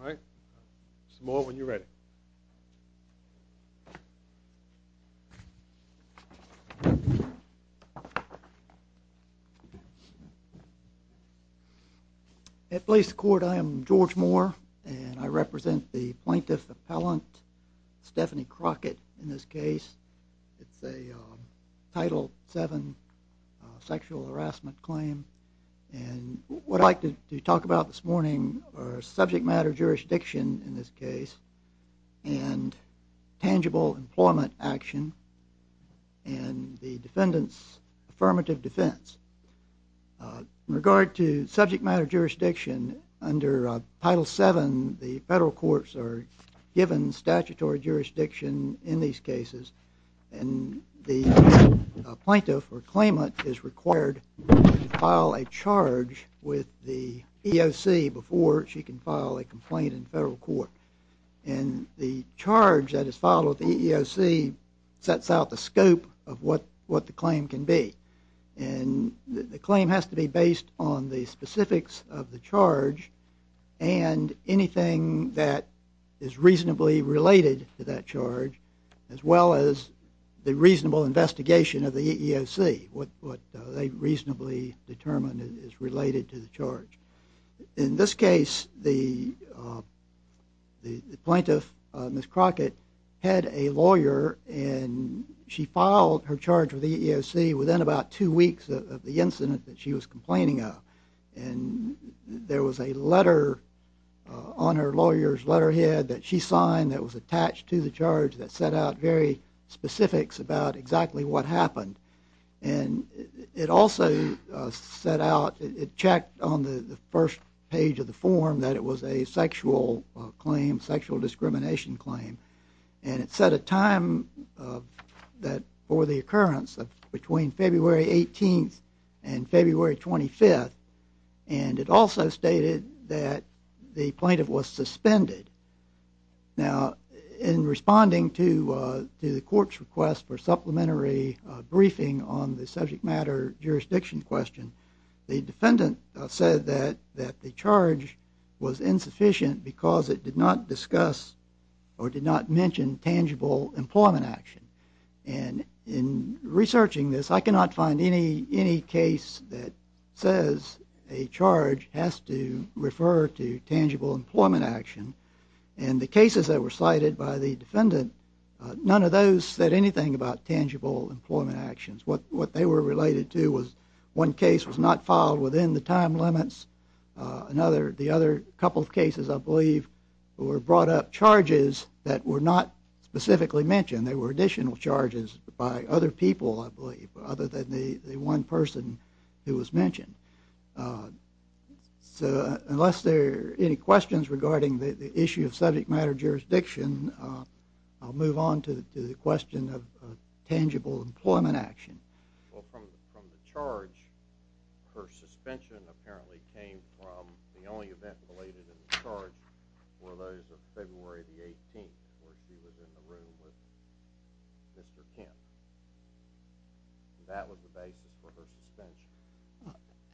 All right, some more when you're ready. At Blasey Court, I am George Moore, and I represent the plaintiff appellant Stephanie Crockett in this case. It's a Title VII sexual harassment claim, and what I'd like to talk about this morning are subject matter jurisdiction in this case, and tangible employment action, and the defendant's affirmative defense. In regard to subject matter jurisdiction, under Title VII, the federal courts are given statutory jurisdiction in these cases, and the plaintiff or claimant is required to file a charge with the EEOC before she can file a complaint in federal court. And the charge that is filed with the EEOC sets out the scope of what the claim can be, and the claim has to be based on the specifics of the charge and anything that is reasonably related to that charge, as well as the reasonable investigation of the EEOC, what they reasonably determine is related to the charge. In this case, the plaintiff, Ms. Crockett, had a lawyer, and she filed her charge with the EEOC within about two weeks of the incident that she was complaining of. And there was a letter on her lawyer's letterhead that she signed that was attached to the charge that set out very specifics about exactly what happened. And it also set out, it checked on the first page of the form that it was a sexual claim, sexual discrimination claim, and it set a time for the occurrence between February 18th and February 25th, and it also stated that the plaintiff was suspended. Now, in responding to the court's request for supplementary briefing on the subject matter jurisdiction question, the defendant said that the charge was insufficient because it did not discuss or did not mention tangible employment action. And in researching this, I cannot find any case that says a charge has to refer to tangible employment action. And the cases that were cited by the defendant, none of those said anything about tangible employment actions. What they were related to was one case was not filed within the time limits. The other couple of cases, I believe, were brought up charges that were not specifically mentioned. They were additional charges by other people, I believe, other than the one person who was mentioned. So unless there are any questions regarding the issue of subject matter jurisdiction, I'll move on to the question of tangible employment action. Well, from the charge, her suspension apparently came from the only event related in the charge were those of February the 18th where she was in the room with Mr. Kent. That was the basis for her suspension.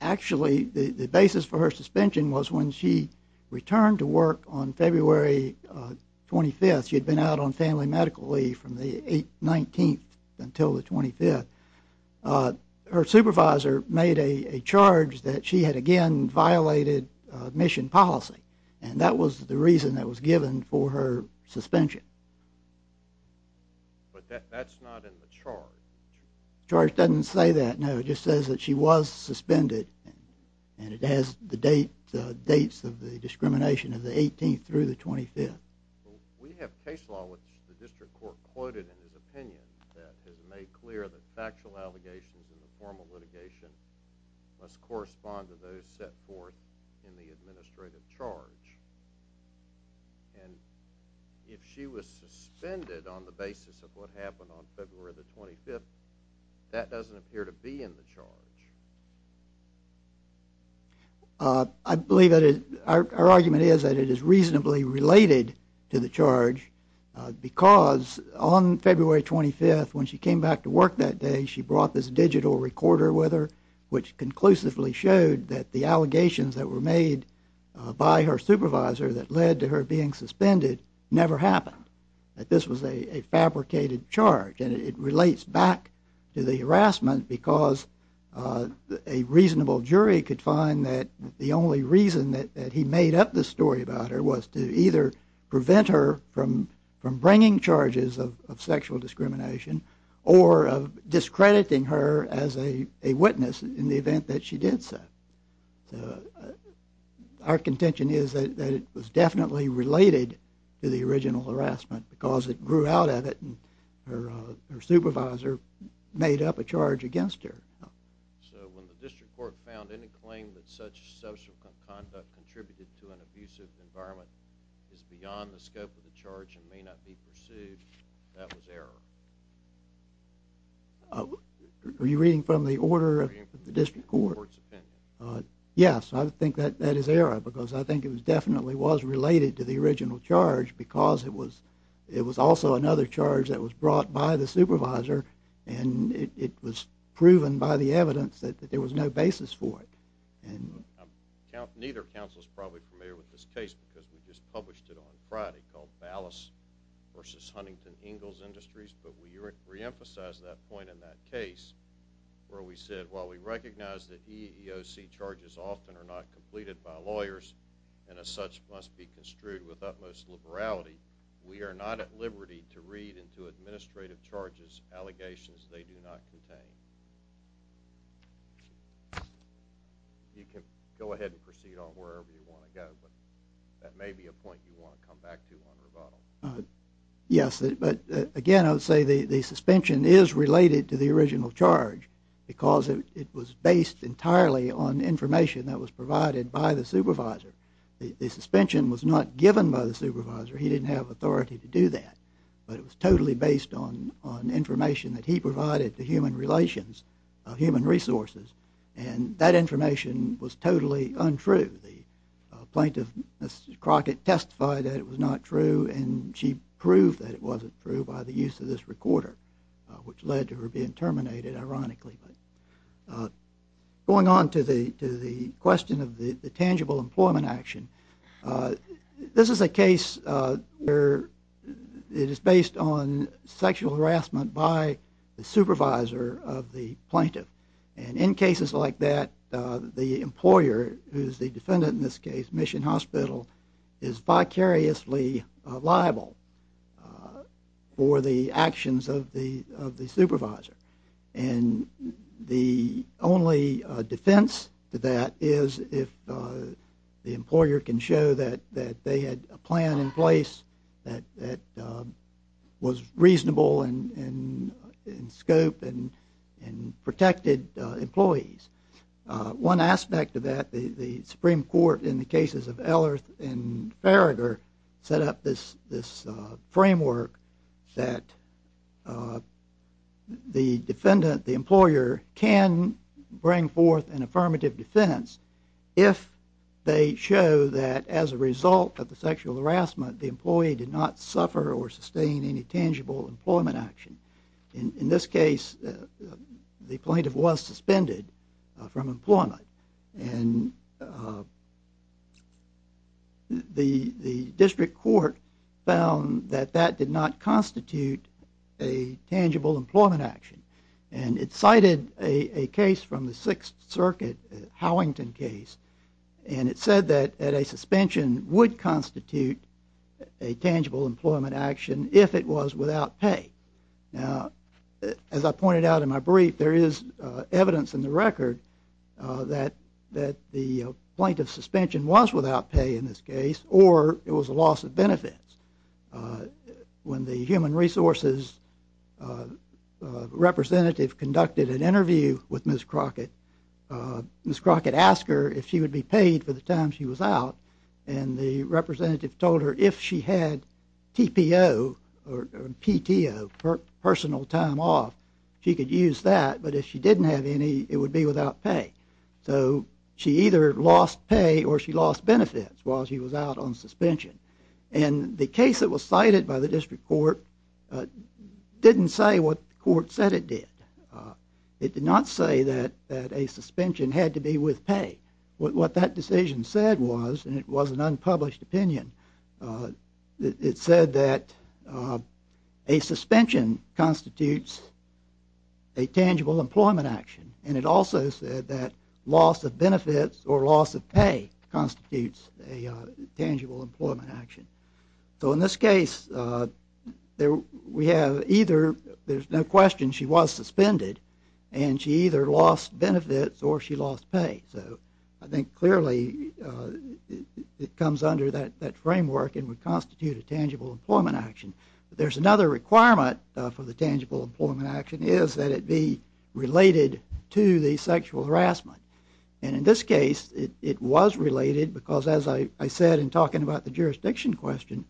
Actually, the basis for her suspension was when she returned to work on February 25th. She had been out on family medical leave from the 19th until the 25th. Her supervisor made a charge that she had again violated mission policy, and that was the reason that was given for her suspension. But that's not in the charge. The charge doesn't say that, no. It just says that she was suspended, and it has the dates of the discrimination of the 18th through the 25th. We have case law which the district court quoted in his opinion that has made clear that factual allegations in the formal litigation must correspond to those set forth in the administrative charge. And if she was suspended on the basis of what happened on February the 25th, I believe that our argument is that it is reasonably related to the charge because on February 25th when she came back to work that day, she brought this digital recorder with her which conclusively showed that the allegations that were made by her supervisor that led to her being suspended never happened, that this was a fabricated charge. And it relates back to the harassment because a reasonable jury could find that the only reason that he made up this story about her was to either prevent her from bringing charges of sexual discrimination or of discrediting her as a witness in the event that she did so. Our contention is that it was definitely related to the original harassment because it grew out of it and her supervisor made up a charge against her. So when the district court found any claim that such subsequent conduct contributed to an abusive environment is beyond the scope of the charge and may not be pursued, that was error? Are you reading from the order of the district court? Yes, I think that is error because I think it definitely was related to the original charge because it was also another charge that was brought by the supervisor and it was proven by the evidence that there was no basis for it. Neither counsel is probably familiar with this case because we just published it on Friday called Ballas versus Huntington Ingalls Industries, but we reemphasized that point in that case where we said, while we recognize that EEOC charges often are not completed by lawyers and as such must be construed with utmost liberality, we are not at liberty to read into administrative charges allegations they do not contain. You can go ahead and proceed on wherever you want to go, but that may be a point you want to come back to on rebuttal. Yes, but again I would say the suspension is related to the original charge because it was based entirely on information that was provided by the supervisor. The suspension was not given by the supervisor. He didn't have authority to do that, but it was totally based on information that he provided to human relations, human resources, and that information was totally untrue. The plaintiff, Mrs. Crockett, testified that it was not true and she proved that it wasn't true by the use of this recorder, which led to her being terminated, ironically. Going on to the question of the tangible employment action, this is a case where it is based on sexual harassment by the supervisor of the plaintiff, and in cases like that the employer, who is the defendant in this case, Mission Hospital, is vicariously liable for the actions of the supervisor, and the only defense to that is if the employer can show that they had a plan in place that was reasonable in scope and protected employees. One aspect of that, the Supreme Court in the cases of Ellerth and Farragher set up this framework that the defendant, the employer, can bring forth an affirmative defense if they show that as a result of the sexual harassment, the employee did not suffer or sustain any tangible employment action. In this case, the plaintiff was suspended from employment and the district court found that that did not constitute a tangible employment action, and it cited a case from the Sixth Circuit, Howington case, and it said that a suspension would constitute a tangible employment action if it was without pay. Now, as I pointed out in my brief, there is evidence in the record that the plaintiff's suspension was without pay in this case, or it was a loss of benefits. When the Human Resources representative conducted an interview with Ms. Crockett, Ms. Crockett asked her if she would be paid for the time she was out, and the representative told her if she had TPO or PTO, personal time off, she could use that, but if she didn't have any, it would be without pay. So she either lost pay or she lost benefits while she was out on suspension. And the case that was cited by the district court didn't say what the court said it did. It did not say that a suspension had to be with pay. What that decision said was, and it was an unpublished opinion, it said that a suspension constitutes a tangible employment action, and it also said that loss of benefits or loss of pay constitutes a tangible employment action. So in this case, we have either, there's no question she was suspended, and she either lost benefits or she lost pay. So I think clearly it comes under that framework and would constitute a tangible employment action. But there's another requirement for the tangible employment action, is that it be related to the sexual harassment. And in this case, it was related because, as I said in talking about the jurisdiction question,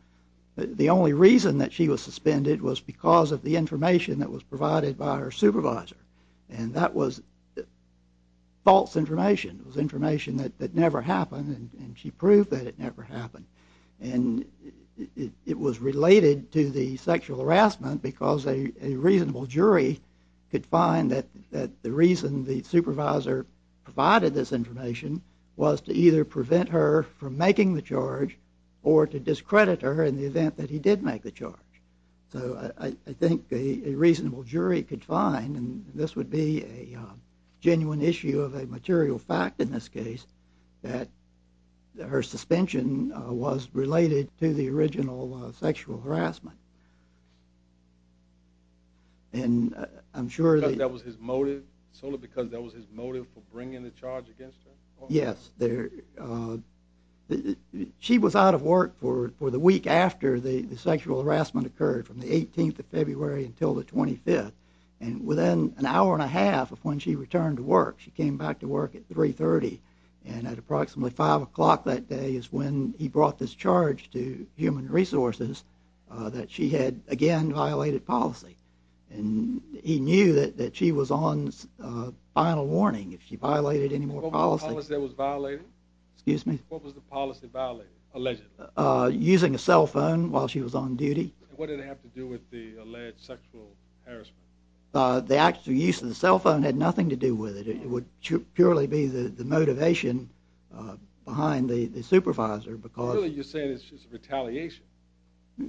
the only reason that she was suspended was because of the information that was provided by her supervisor. And that was false information. It was information that never happened, and she proved that it never happened. And it was related to the sexual harassment because a reasonable jury could find that the reason the supervisor provided this information was to either prevent her from making the charge or to discredit her in the event that he did make the charge. So I think a reasonable jury could find, and this would be a genuine issue of a material fact in this case, that her suspension was related to the original sexual harassment. And I'm sure that... Because that was his motive? Solely because that was his motive for bringing the charge against her? Yes. She was out of work for the week after the sexual harassment occurred, from the 18th of February until the 25th. And within an hour and a half of when she returned to work, she came back to work at 3.30. And at approximately 5 o'clock that day is when he brought this charge to Human Resources that she had again violated policy. And he knew that she was on final warning if she violated any more policy. What was the policy that was violated? Excuse me? What was the policy violated, allegedly? Using a cell phone while she was on duty. And what did it have to do with the alleged sexual harassment? The actual use of the cell phone had nothing to do with it. It would purely be the motivation behind the supervisor because... Clearly you're saying it's just retaliation.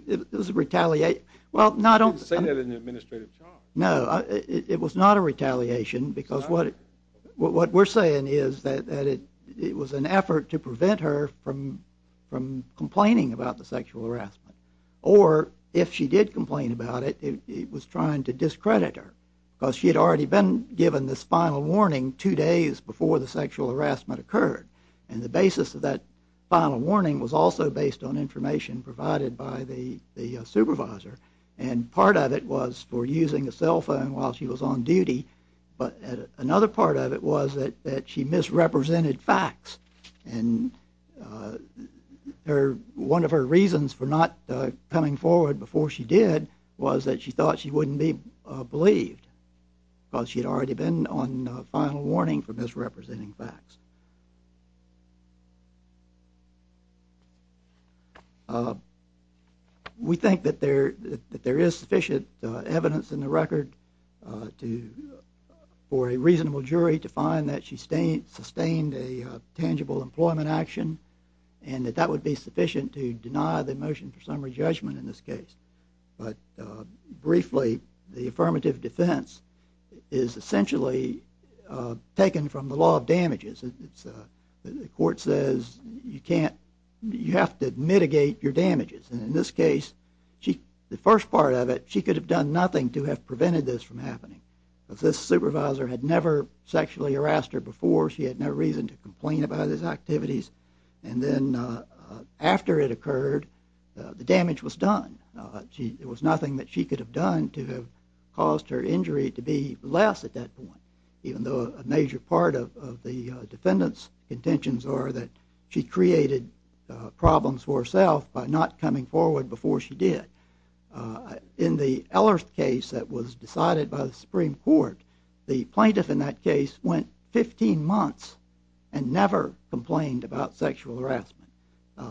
It was retaliation. You didn't say that in the administrative charge. No, it was not a retaliation because what we're saying is that it was an effort to prevent her from complaining about the sexual harassment. Or if she did complain about it, it was trying to discredit her because she had already been given this final warning two days before the sexual harassment occurred. And the basis of that final warning was also based on information provided by the supervisor. And part of it was for using a cell phone while she was on duty. But another part of it was that she misrepresented facts. And one of her reasons for not coming forward before she did was that she thought she wouldn't be believed because she had already been on final warning for misrepresenting facts. We think that there is sufficient evidence in the record for a reasonable jury to find that she sustained a tangible employment action and that that would be sufficient to deny the motion for summary judgment in this case. But briefly, the affirmative defense is essentially taken from the law of damages. The court says you have to mitigate your damages. And in this case, the first part of it, she could have done nothing to have prevented this from happening because this supervisor had never sexually harassed her before. She had no reason to complain about his activities. And then after it occurred, the damage was done. It was nothing that she could have done to have caused her injury to be less at that point, even though a major part of the defendant's intentions are that she created problems for herself by not coming forward before she did. In the Ellerth case that was decided by the Supreme Court, the plaintiff in that case went 15 months and never complained about sexual harassment.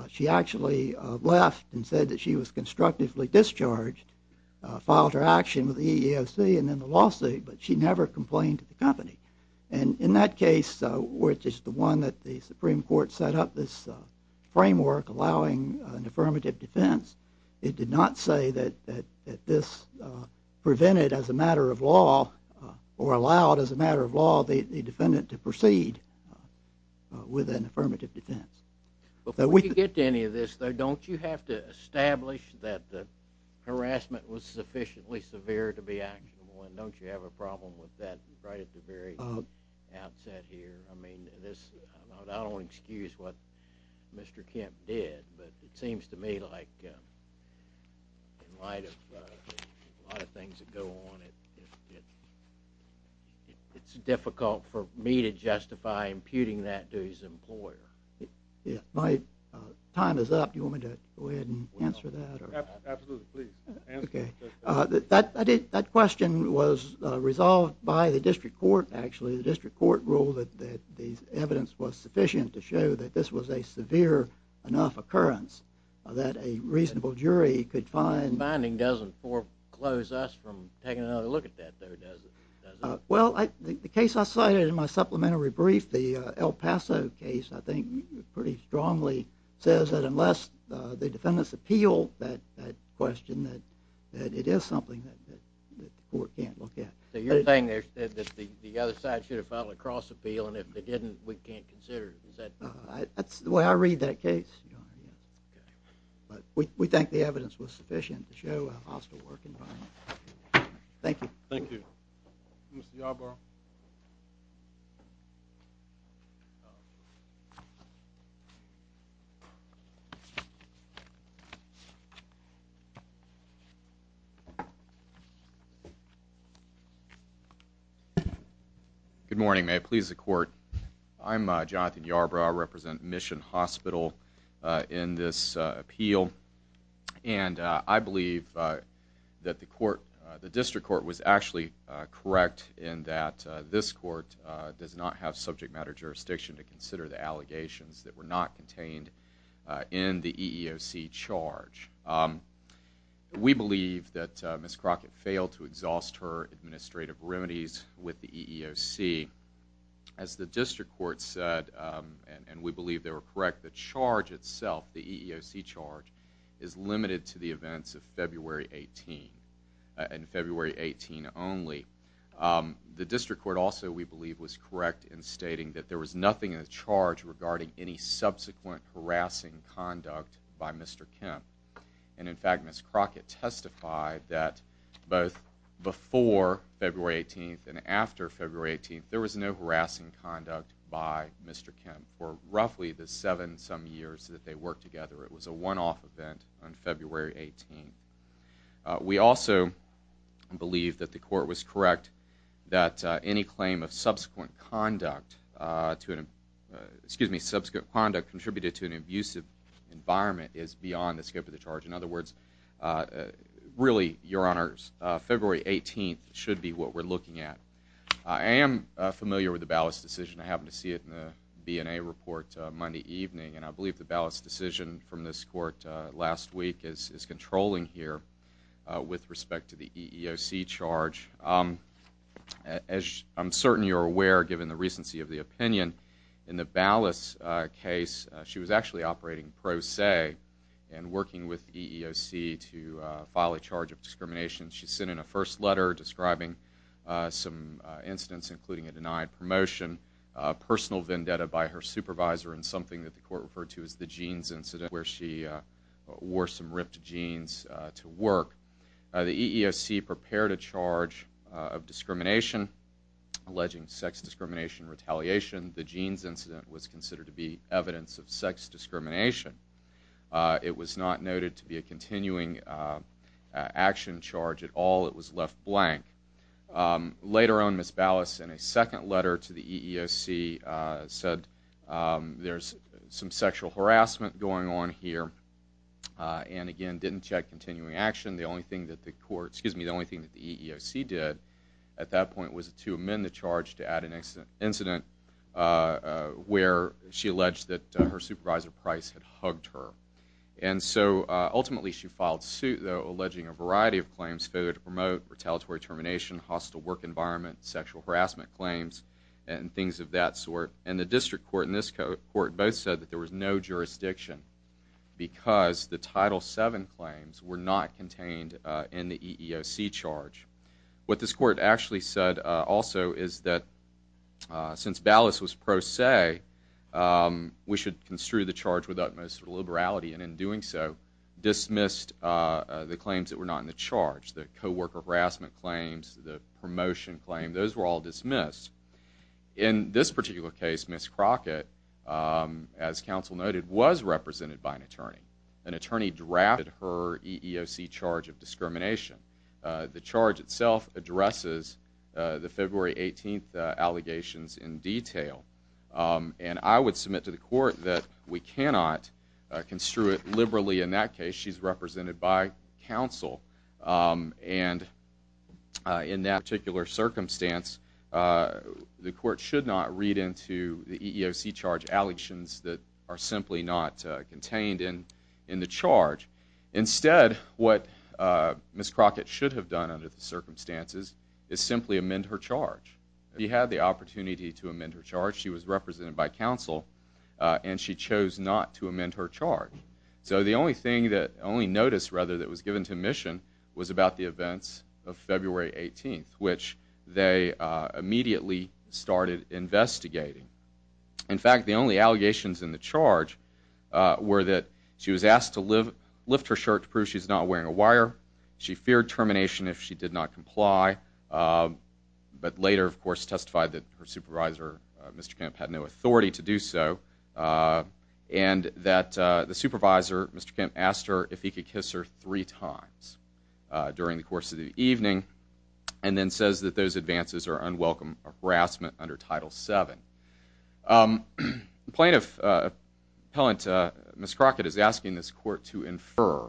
She actually left and said that she was constructively discharged, filed her action with the EEOC and then the lawsuit, but she never complained to the company. And in that case, which is the one that the Supreme Court set up this framework allowing an affirmative defense, it did not say that this prevented, as a matter of law, or allowed, as a matter of law, the defendant to proceed with an affirmative defense. Before we get to any of this, though, don't you have to establish that the harassment was sufficiently severe to be actionable? And don't you have a problem with that right at the very outset here? I mean, I don't want to excuse what Mr. Kemp did, but it seems to me like in light of a lot of things that go on, it's difficult for me to justify imputing that to his employer. My time is up. Do you want me to go ahead and answer that? Absolutely, please. That question was resolved by the district court, actually. The district court ruled that the evidence was sufficient to show that this was a severe enough occurrence that a reasonable jury could find. The finding doesn't foreclose us from taking another look at that, though, does it? Well, the case I cited in my supplementary brief, the El Paso case, I think, pretty strongly says that unless the defendants appeal that question, that it is something that the court can't look at. So you're saying that the other side should have filed a cross-appeal, and if they didn't, we can't consider it? That's the way I read that case. But we think the evidence was sufficient to show a hostile work environment. Thank you. Thank you. Mr. Yarbrough? Good morning. May it please the court, I'm Jonathan Yarbrough. I represent Mission Hospital in this appeal. And I believe that the district court was actually correct in that this court does not have subject matter jurisdiction to consider the allegations that were not contained in the EEOC charge. We believe that Ms. Crockett failed to exhaust her administrative remedies with the EEOC. As the district court said, and we believe they were correct, the charge itself, the EEOC charge, is limited to the events of February 18, and February 18 only. The district court also, we believe, was correct in stating that there was nothing in the charge regarding any subsequent harassing conduct by Mr. Kemp. And, in fact, Ms. Crockett testified that both before February 18 and after February 18, there was no harassing conduct by Mr. Kemp for roughly the seven-some years that they worked together. It was a one-off event on February 18. We also believe that the court was correct that any claim of subsequent conduct contributed to an abusive environment is beyond the scope of the charge. In other words, really, Your Honors, February 18 should be what we're looking at. I am familiar with the Ballas decision. I happened to see it in the BNA report Monday evening. And I believe the Ballas decision from this court last week is controlling here with respect to the EEOC charge. As I'm certain you're aware, given the recency of the opinion, in the Ballas case, she was actually operating pro se and working with EEOC to file a charge of discrimination. She sent in a first letter describing some incidents, including a denied promotion, personal vendetta by her supervisor, and something that the court referred to as the jeans incident where she wore some ripped jeans to work. The EEOC prepared a charge of discrimination alleging sex discrimination retaliation. The jeans incident was considered to be evidence of sex discrimination. It was not noted to be a continuing action charge at all. It was left blank. Later on, Ms. Ballas, in a second letter to the EEOC, said there's some sexual harassment going on here. And again, didn't check continuing action. The only thing that the court, excuse me, the only thing that the EEOC did at that point was to amend the charge to add an incident where she alleged that her supervisor Price had hugged her. And so ultimately she filed suit, though, alleging a variety of claims, failure to promote, retaliatory termination, hostile work environment, sexual harassment claims, and things of that sort. And the district court and this court both said that there was no jurisdiction because the Title VII claims were not contained in the EEOC charge. What this court actually said also is that since Ballas was pro se, we should construe the charge with utmost liberality. And in doing so, dismissed the claims that were not in the charge, the co-worker harassment claims, the promotion claim. Those were all dismissed. In this particular case, Ms. Crockett, as counsel noted, was represented by an attorney. An attorney drafted her EEOC charge of discrimination. The charge itself addresses the February 18th allegations in detail. And I would submit to the court that we cannot construe it liberally in that case. She's represented by counsel. And in that particular circumstance, the court should not read into the EEOC charge allegations that are simply not contained in the charge. Instead, what Ms. Crockett should have done under the circumstances is simply amend her charge. She had the opportunity to amend her charge. She was represented by counsel. And she chose not to amend her charge. So the only notice that was given to Mission was about the events of February 18th, which they immediately started investigating. In fact, the only allegations in the charge were that she was asked to lift her shirt to prove she's not wearing a wire. She feared termination if she did not comply. But later, of course, testified that her supervisor, Mr. Kemp, had no authority to do so. And that the supervisor, Mr. Kemp, asked her if he could kiss her three times during the course of the evening. And then says that those advances are unwelcome harassment under Title VII. Plaintiff appellant Ms. Crockett is asking this court to infer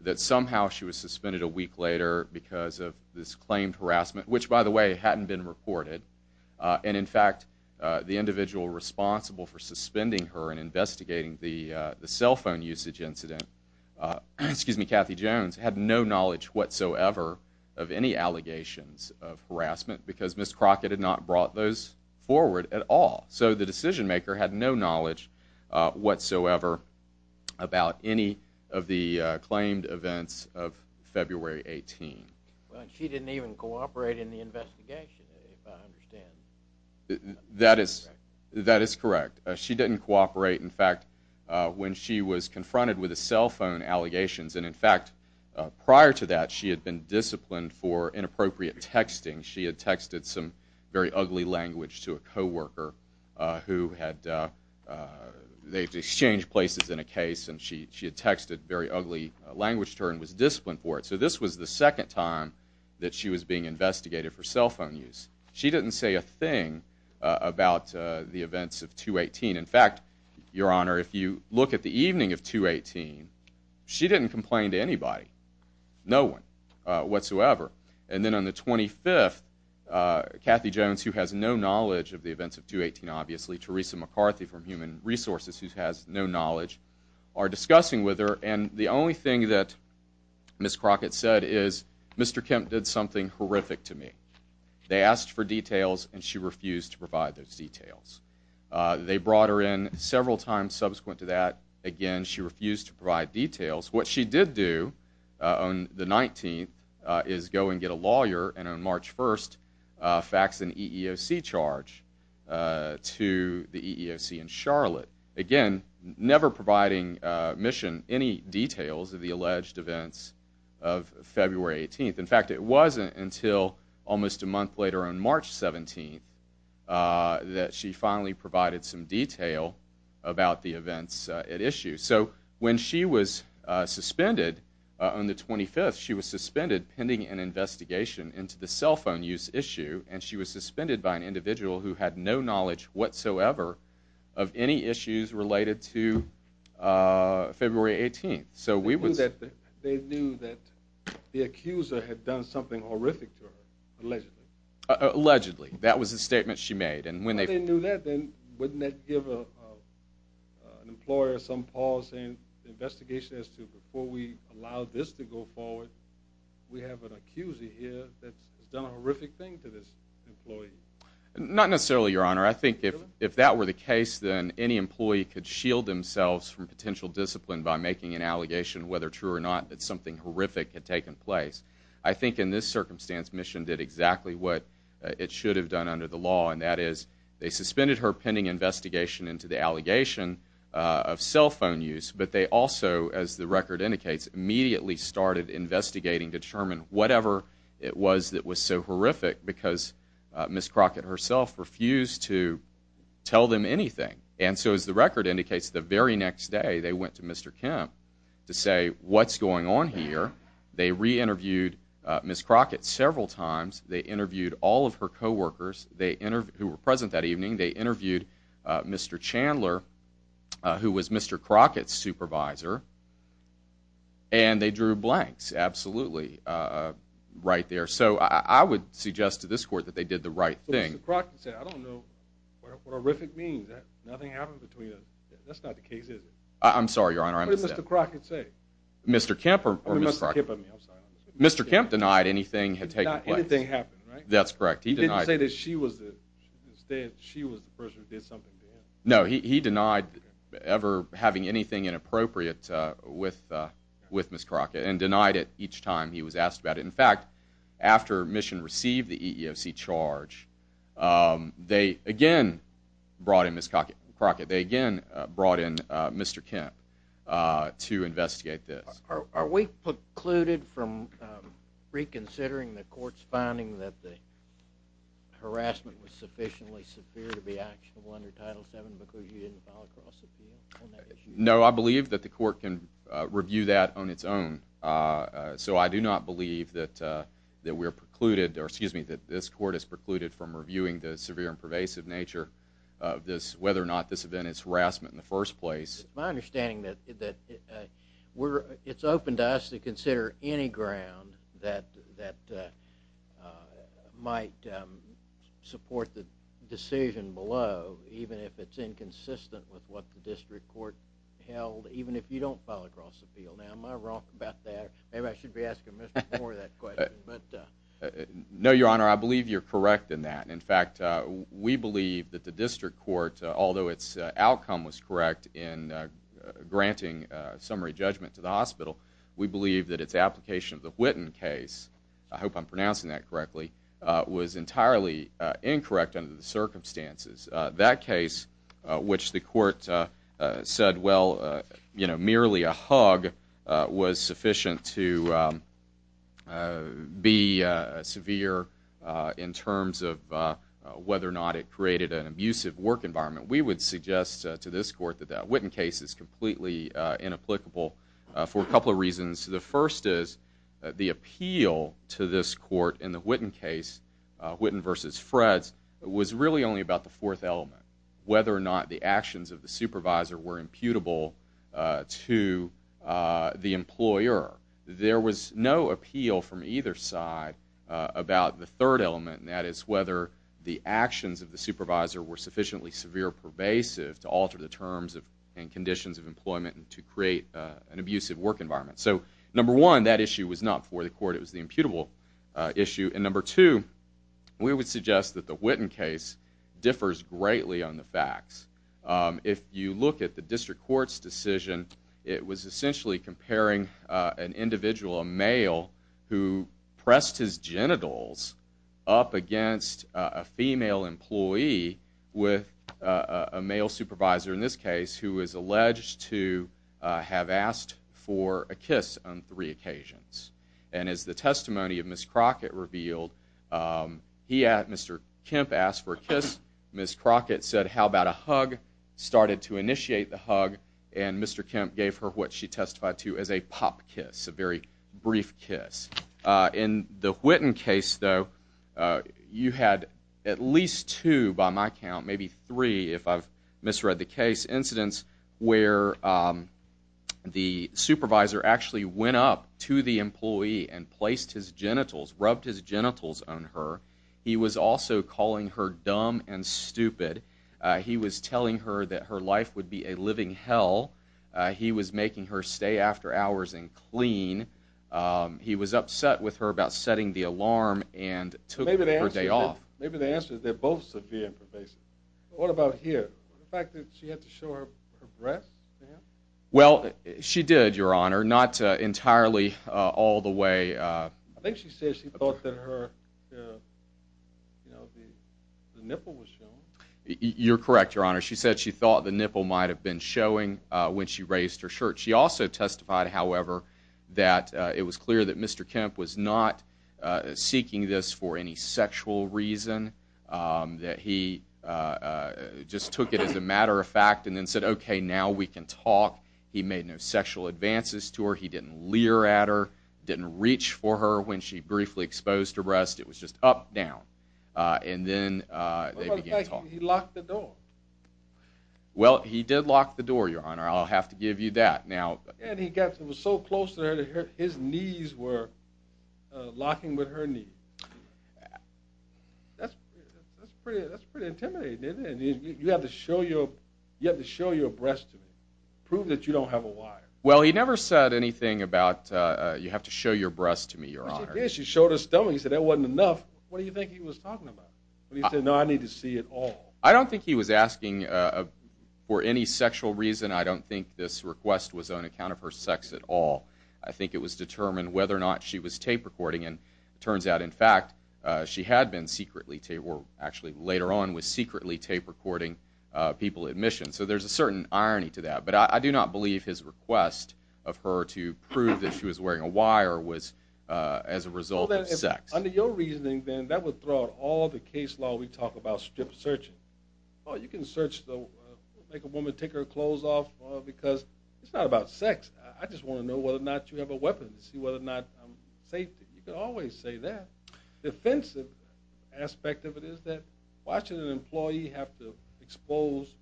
that somehow she was suspended a week later because of this claimed harassment. Which, by the way, hadn't been reported. And in fact, the individual responsible for suspending her and investigating the cell phone usage incident, Kathy Jones, had no knowledge whatsoever of any allegations of harassment because Ms. Crockett had not brought those forward at all. So the decision maker had no knowledge whatsoever about any of the claimed events of February 18th. Well, she didn't even cooperate in the investigation, if I understand. That is correct. She didn't cooperate, in fact, when she was confronted with the cell phone allegations. And in fact, prior to that, she had been disciplined for inappropriate texting. She had texted some very ugly language to a co-worker who had, they exchanged places in a case, and she had texted very ugly language to her and was disciplined for it. So this was the second time that she was being investigated for cell phone use. She didn't say a thing about the events of 2-18. In fact, Your Honor, if you look at the evening of 2-18, she didn't complain to anybody, no one whatsoever. And then on the 25th, Kathy Jones, who has no knowledge of the events of 2-18, obviously, Teresa McCarthy from Human Resources, who has no knowledge, are discussing with her. And the only thing that Ms. Crockett said is, Mr. Kemp did something horrific to me. They asked for details, and she refused to provide those details. They brought her in several times subsequent to that. Again, she refused to provide details. What she did do on the 19th is go and get a lawyer, and on March 1st, fax an EEOC charge to the EEOC in Charlotte. Again, never providing mission any details of the alleged events of February 18th. In fact, it wasn't until almost a month later on March 17th that she finally provided some detail about the events at issue. So when she was suspended on the 25th, she was suspended pending an investigation into the cell phone use issue, and she was suspended by an individual who had no knowledge whatsoever of any issues related to February 18th. They knew that the accuser had done something horrific to her, allegedly. Allegedly. That was the statement she made. Well, they knew that, then wouldn't that give an employer some pause in the investigation as to, before we allow this to go forward, we have an accuser here that has done a horrific thing to this employee? Not necessarily, Your Honor. I think if that were the case, then any employee could shield themselves from potential discipline by making an allegation, whether true or not, that something horrific had taken place. I think in this circumstance, Mission did exactly what it should have done under the law, and that is they suspended her pending investigation into the allegation of cell phone use, but they also, as the record indicates, immediately started investigating, determined whatever it was that was so horrific because Ms. Crockett herself refused to tell them anything. And so, as the record indicates, the very next day they went to Mr. Kemp to say, what's going on here? They re-interviewed Ms. Crockett several times. They interviewed all of her co-workers who were present that evening. They interviewed Mr. Chandler, who was Mr. Crockett's supervisor, and they drew blanks, absolutely, right there. So I would suggest to this Court that they did the right thing. Mr. Crockett said, I don't know what horrific means. Nothing happened between us. That's not the case, is it? I'm sorry, Your Honor. What did Mr. Crockett say? Mr. Kemp or Ms. Crockett? Mr. Kemp denied anything had taken place. Anything happened, right? That's correct. He denied it. Did he say that she was the person who did something to him? No, he denied ever having anything inappropriate with Ms. Crockett and denied it each time he was asked about it. In fact, after Mission received the EEOC charge, they again brought in Ms. Crockett. They again brought in Mr. Kemp to investigate this. Are we precluded from reconsidering the Court's finding that the harassment was sufficiently severe to be actionable under Title VII because you didn't file a cross appeal on that issue? No, I believe that the Court can review that on its own. So I do not believe that we are precluded, or excuse me, that this Court is precluded from reviewing the severe and pervasive nature of whether or not this event is harassment in the first place. My understanding is that it's open to us to consider any ground that might support the decision below, even if it's inconsistent with what the District Court held, even if you don't file a cross appeal. Now, am I wrong about that? Maybe I should be asking Mr. Moore that question. No, Your Honor, I believe you're correct in that. In fact, we believe that the District Court, although its outcome was correct in granting summary judgment to the hospital, we believe that its application of the Whitten case, I hope I'm pronouncing that correctly, was entirely incorrect under the circumstances. That case, which the Court said, well, merely a hug was sufficient to be severe in terms of whether or not it created an abusive work environment, we would suggest to this Court that that Whitten case is completely inapplicable for a couple of reasons. The first is the appeal to this Court in the Whitten case, Whitten v. Freds, was really only about the fourth element, whether or not the actions of the supervisor were imputable to the employer. There was no appeal from either side about the third element, and that is whether the actions of the supervisor were sufficiently severe or pervasive to alter the terms and conditions of employment and to create an abusive work environment. So number one, that issue was not for the Court. It was the imputable issue. And number two, we would suggest that the Whitten case differs greatly on the facts. If you look at the District Court's decision, it was essentially comparing an individual, a male, who pressed his genitals up against a female employee with a male supervisor, in this case, who was alleged to have asked for a kiss on three occasions. And as the testimony of Ms. Crockett revealed, Mr. Kemp asked for a kiss, Ms. Crockett said, In the Whitten case, though, you had at least two, by my count, maybe three, if I've misread the case, incidents where the supervisor actually went up to the employee and placed his genitals, rubbed his genitals on her. He was also calling her dumb and stupid. He was telling her that her life would be a living hell. He was making her stay after hours and clean. He was upset with her about setting the alarm and took her day off. Maybe the answer is they're both severe and pervasive. What about here? The fact that she had to show her breasts to him? Well, she did, Your Honor, not entirely all the way. I think she said she thought that her, you know, the nipple was showing. You're correct, Your Honor. She said she thought the nipple might have been showing when she raised her shirt. She also testified, however, that it was clear that Mr. Kemp was not seeking this for any sexual reason, that he just took it as a matter of fact and then said, OK, now we can talk. He made no sexual advances to her. He didn't leer at her, didn't reach for her when she briefly exposed her breasts. It was just up, down. And then he locked the door. Well, he did lock the door, Your Honor. I'll have to give you that now. And he got so close to her that his knees were locking with her knee. That's pretty intimidating. You have to show your you have to show your breasts to prove that you don't have a wife. Well, he never said anything about you have to show your breasts to me. Yes, you showed her stomach. He said that wasn't enough. What do you think he was talking about? He said, no, I need to see it all. I don't think he was asking for any sexual reason. I don't think this request was on account of her sex at all. I think it was determined whether or not she was tape recording. And it turns out, in fact, she had been secretly tape or actually later on was secretly tape recording people admission. So there's a certain irony to that. But I do not believe his request of her to prove that she was wearing a wire was as a result of sex. Under your reasoning, then that would throw out all the case law. We talk about strip searching. You can search the make a woman take her clothes off because it's not about sex. I just want to know whether or not you have a weapon to see whether or not safety. You can always say that defensive aspect of it is that watching an employee have to expose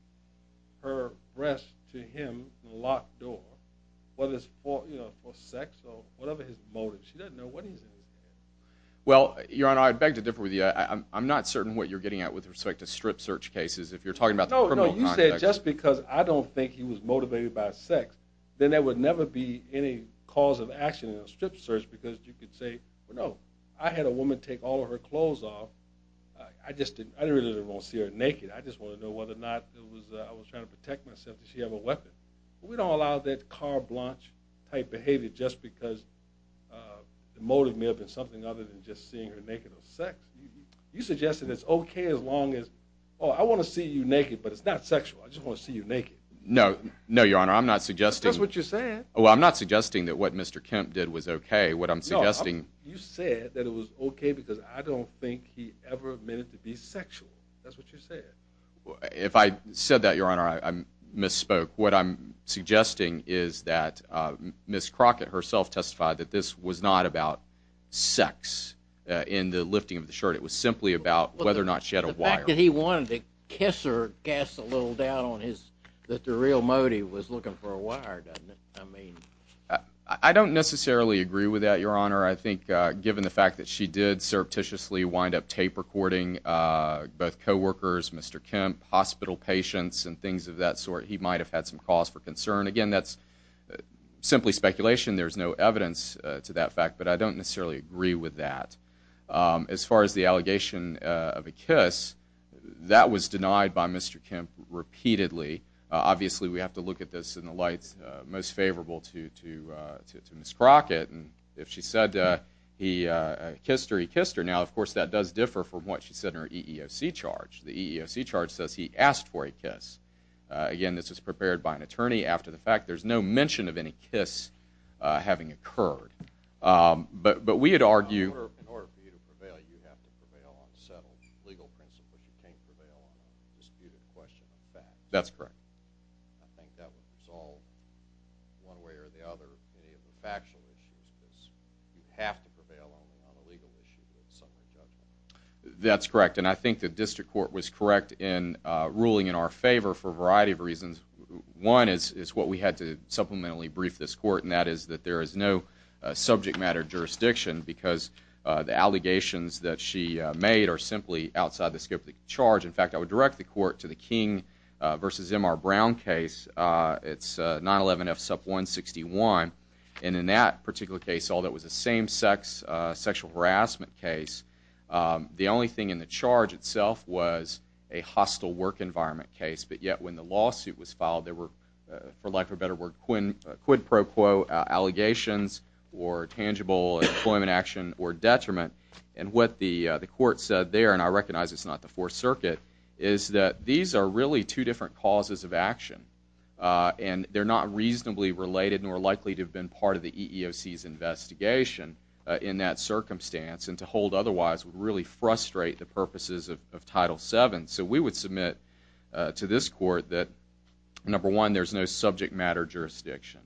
her breast to him locked door. Whether it's for sex or whatever his motive, she doesn't know what he's. Well, your honor, I beg to differ with you. I'm not certain what you're getting at with respect to strip search cases. If you're talking about, oh, no, you said just because I don't think he was motivated by sex, then there would never be any cause of action in a strip search because you could say, no, I had a woman take all of her clothes off. I just didn't want to see her naked. I just want to know whether or not it was I was trying to protect myself. Did she have a weapon? We don't allow that car Blanche type behavior just because the motive may have been something other than just seeing her naked or sex. You suggested it's OK as long as, oh, I want to see you naked, but it's not sexual. I just want to see you naked. No, no, your honor. I'm not suggesting what you said. Well, I'm not suggesting that what Mr. Kemp did was OK. What I'm suggesting you said that it was OK because I don't think he ever meant to be sexual. That's what you said. Well, if I said that, your honor, I misspoke. What I'm suggesting is that Miss Crockett herself testified that this was not about sex in the lifting of the shirt. It was simply about whether or not she had a wife. He wanted to kiss or gas a little down on his that the real Modi was looking for a wire. I mean, I don't necessarily agree with that, your honor. I think given the fact that she did surreptitiously wind up tape recording both coworkers, Mr. Kemp, hospital patients and things of that sort, he might have had some cause for concern. Again, that's simply speculation. There's no evidence to that fact, but I don't necessarily agree with that. As far as the allegation of a kiss, that was denied by Mr. Kemp repeatedly. Obviously, we have to look at this in the light most favorable to Miss Crockett. If she said he kissed her, he kissed her. Now, of course, that does differ from what she said in her EEOC charge. The EEOC charge says he asked for a kiss. Again, this was prepared by an attorney after the fact. There's no mention of any kiss having occurred. But we had argued— In order for you to prevail, you have to prevail on settled legal principles. You can't prevail on a disputed question of facts. That's correct. I think that would resolve, one way or the other, any of the factual issues because you have to prevail only on a legal issue with summary judgment. That's correct, and I think the district court was correct in ruling in our favor for a variety of reasons. One is what we had to supplementally brief this court, and that is that there is no subject matter jurisdiction because the allegations that she made are simply outside the scope of the charge. In fact, I would direct the court to the King v. M. R. Brown case. It's 911 F. Sup. 161. And in that particular case, although it was a same-sex sexual harassment case, the only thing in the charge itself was a hostile work environment case. But yet, when the lawsuit was filed, there were, for lack of a better word, quid pro quo allegations or tangible employment action or detriment. And what the court said there, and I recognize it's not the Fourth Circuit, is that these are really two different causes of action, and they're not reasonably related nor likely to have been part of the EEOC's investigation in that circumstance, and to hold otherwise would really frustrate the purposes of Title VII. So we would submit to this court that, number one, there's no subject matter jurisdiction.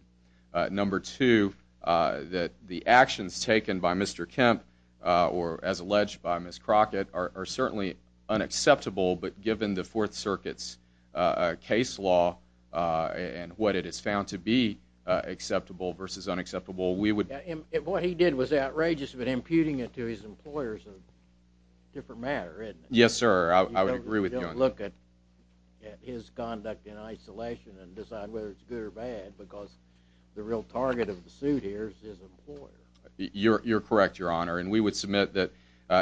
Number two, that the actions taken by Mr. Kemp or, as alleged by Ms. Crockett, are certainly unacceptable, but given the Fourth Circuit's case law and what it has found to be acceptable versus unacceptable, we would— What he did was outrageous, but imputing it to his employers is a different matter, isn't it? Yes, sir. I would agree with you on that. You don't look at his conduct in isolation and decide whether it's good or bad because the real target of the suit here is his employer. You're correct, Your Honor, and we would submit that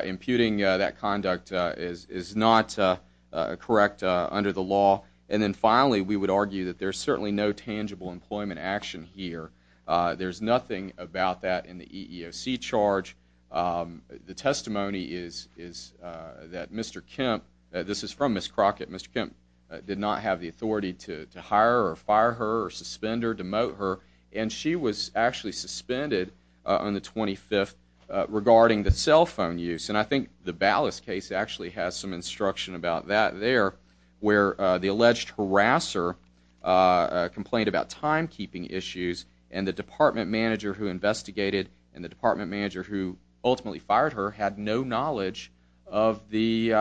imputing that conduct is not correct under the law. And then finally, we would argue that there's certainly no tangible employment action here. There's nothing about that in the EEOC charge. The testimony is that Mr. Kemp—this is from Ms. Crockett— Mr. Kemp did not have the authority to hire or fire her or suspend her, demote her, and she was actually suspended on the 25th regarding the cell phone use. And I think the Ballas case actually has some instruction about that there where the alleged harasser complained about timekeeping issues and the department manager who investigated and the department manager who ultimately fired her had no knowledge of the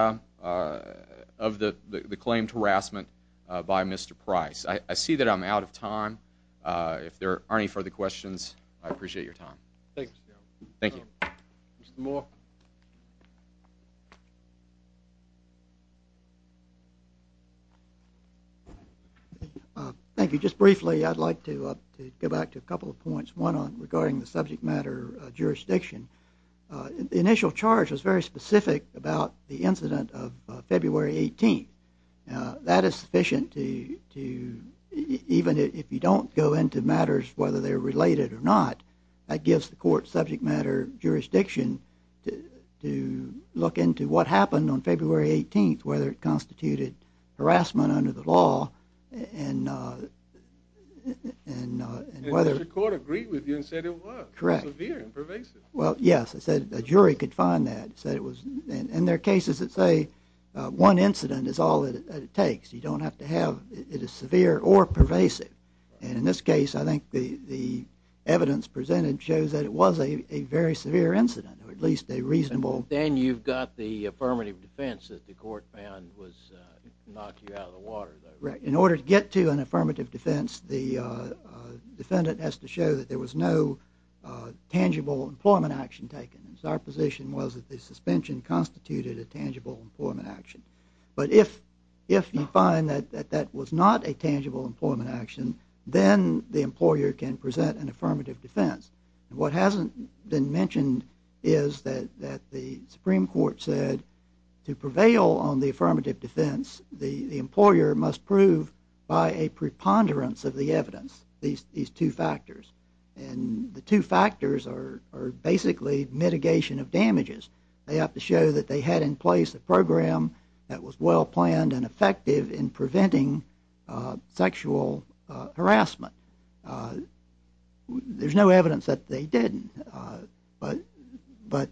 claimed harassment by Mr. Price. I see that I'm out of time. If there aren't any further questions, I appreciate your time. Thank you, Mr. Chairman. Thank you. Mr. Moore. Thank you. Thank you. Just briefly, I'd like to go back to a couple of points, one on regarding the subject matter jurisdiction. The initial charge was very specific about the incident of February 18th. That is sufficient to—even if you don't go into matters whether they're related or not, that gives the court subject matter jurisdiction to look into what happened on February 18th, whether it constituted harassment under the law and whether— And the court agreed with you and said it was. Correct. It was severe and pervasive. Well, yes. A jury could find that. And there are cases that say one incident is all that it takes. You don't have to have—it is severe or pervasive. And in this case, I think the evidence presented shows that it was a very severe incident, or at least a reasonable— Then you've got the affirmative defense that the court found was—knocked you out of the water, though. Right. In order to get to an affirmative defense, the defendant has to show that there was no tangible employment action taken. And so our position was that the suspension constituted a tangible employment action. But if you find that that was not a tangible employment action, then the employer can present an affirmative defense. And what hasn't been mentioned is that the Supreme Court said to prevail on the affirmative defense, the employer must prove by a preponderance of the evidence, these two factors. They have to show that they had in place a program that was well-planned and effective in preventing sexual harassment. There's no evidence that they didn't, but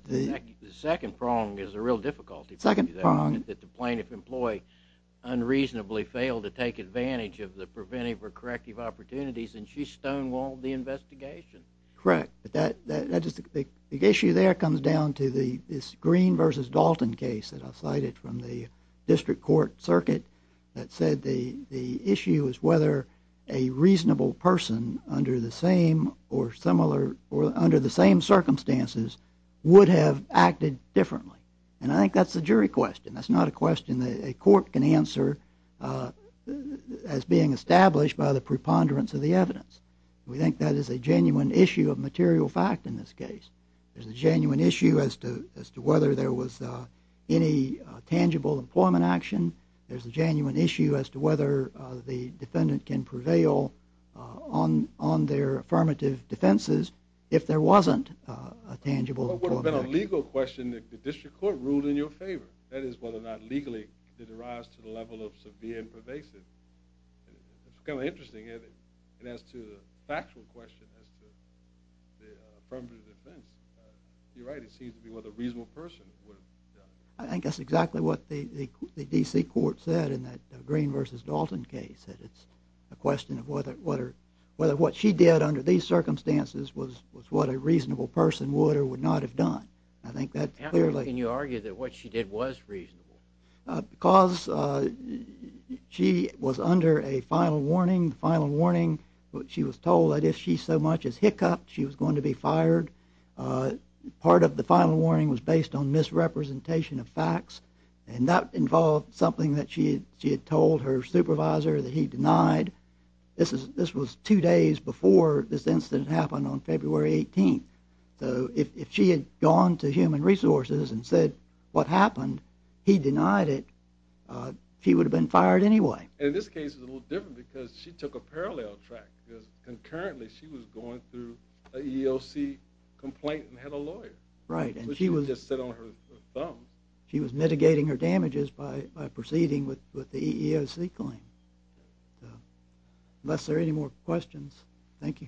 the— The second prong is a real difficulty. Second prong? That the plaintiff employed unreasonably failed to take advantage of the preventive or corrective opportunities, and she stonewalled the investigation. Correct. But that—the issue there comes down to this Green v. Dalton case that I cited from the district court circuit that said the issue is whether a reasonable person under the same or similar—or under the same circumstances would have acted differently. And I think that's a jury question. That's not a question that a court can answer as being established by the preponderance of the evidence. We think that is a genuine issue of material fact in this case. There's a genuine issue as to whether there was any tangible employment action. There's a genuine issue as to whether the defendant can prevail on their affirmative defenses if there wasn't a tangible employment action. What would have been a legal question if the district court ruled in your favor? That is, whether or not legally did it rise to the level of severe and pervasive. It's kind of interesting as to the factual question as to the affirmative defense. You're right. It seems to be whether a reasonable person would have done it. I think that's exactly what the D.C. court said in that Green v. Dalton case, that it's a question of whether what she did under these circumstances was what a reasonable person would or would not have done. I think that clearly— How can you argue that what she did was reasonable? Because she was under a final warning. The final warning, she was told that if she so much as hiccuped, she was going to be fired. Part of the final warning was based on misrepresentation of facts, and that involved something that she had told her supervisor that he denied. This was two days before this incident happened on February 18th. So if she had gone to Human Resources and said what happened, he denied it, she would have been fired anyway. And this case is a little different because she took a parallel track because concurrently she was going through an EEOC complaint and had a lawyer. Right, and she was— So she didn't just sit on her thumb. She was mitigating her damages by proceeding with the EEOC claim. Unless there are any more questions, thank you.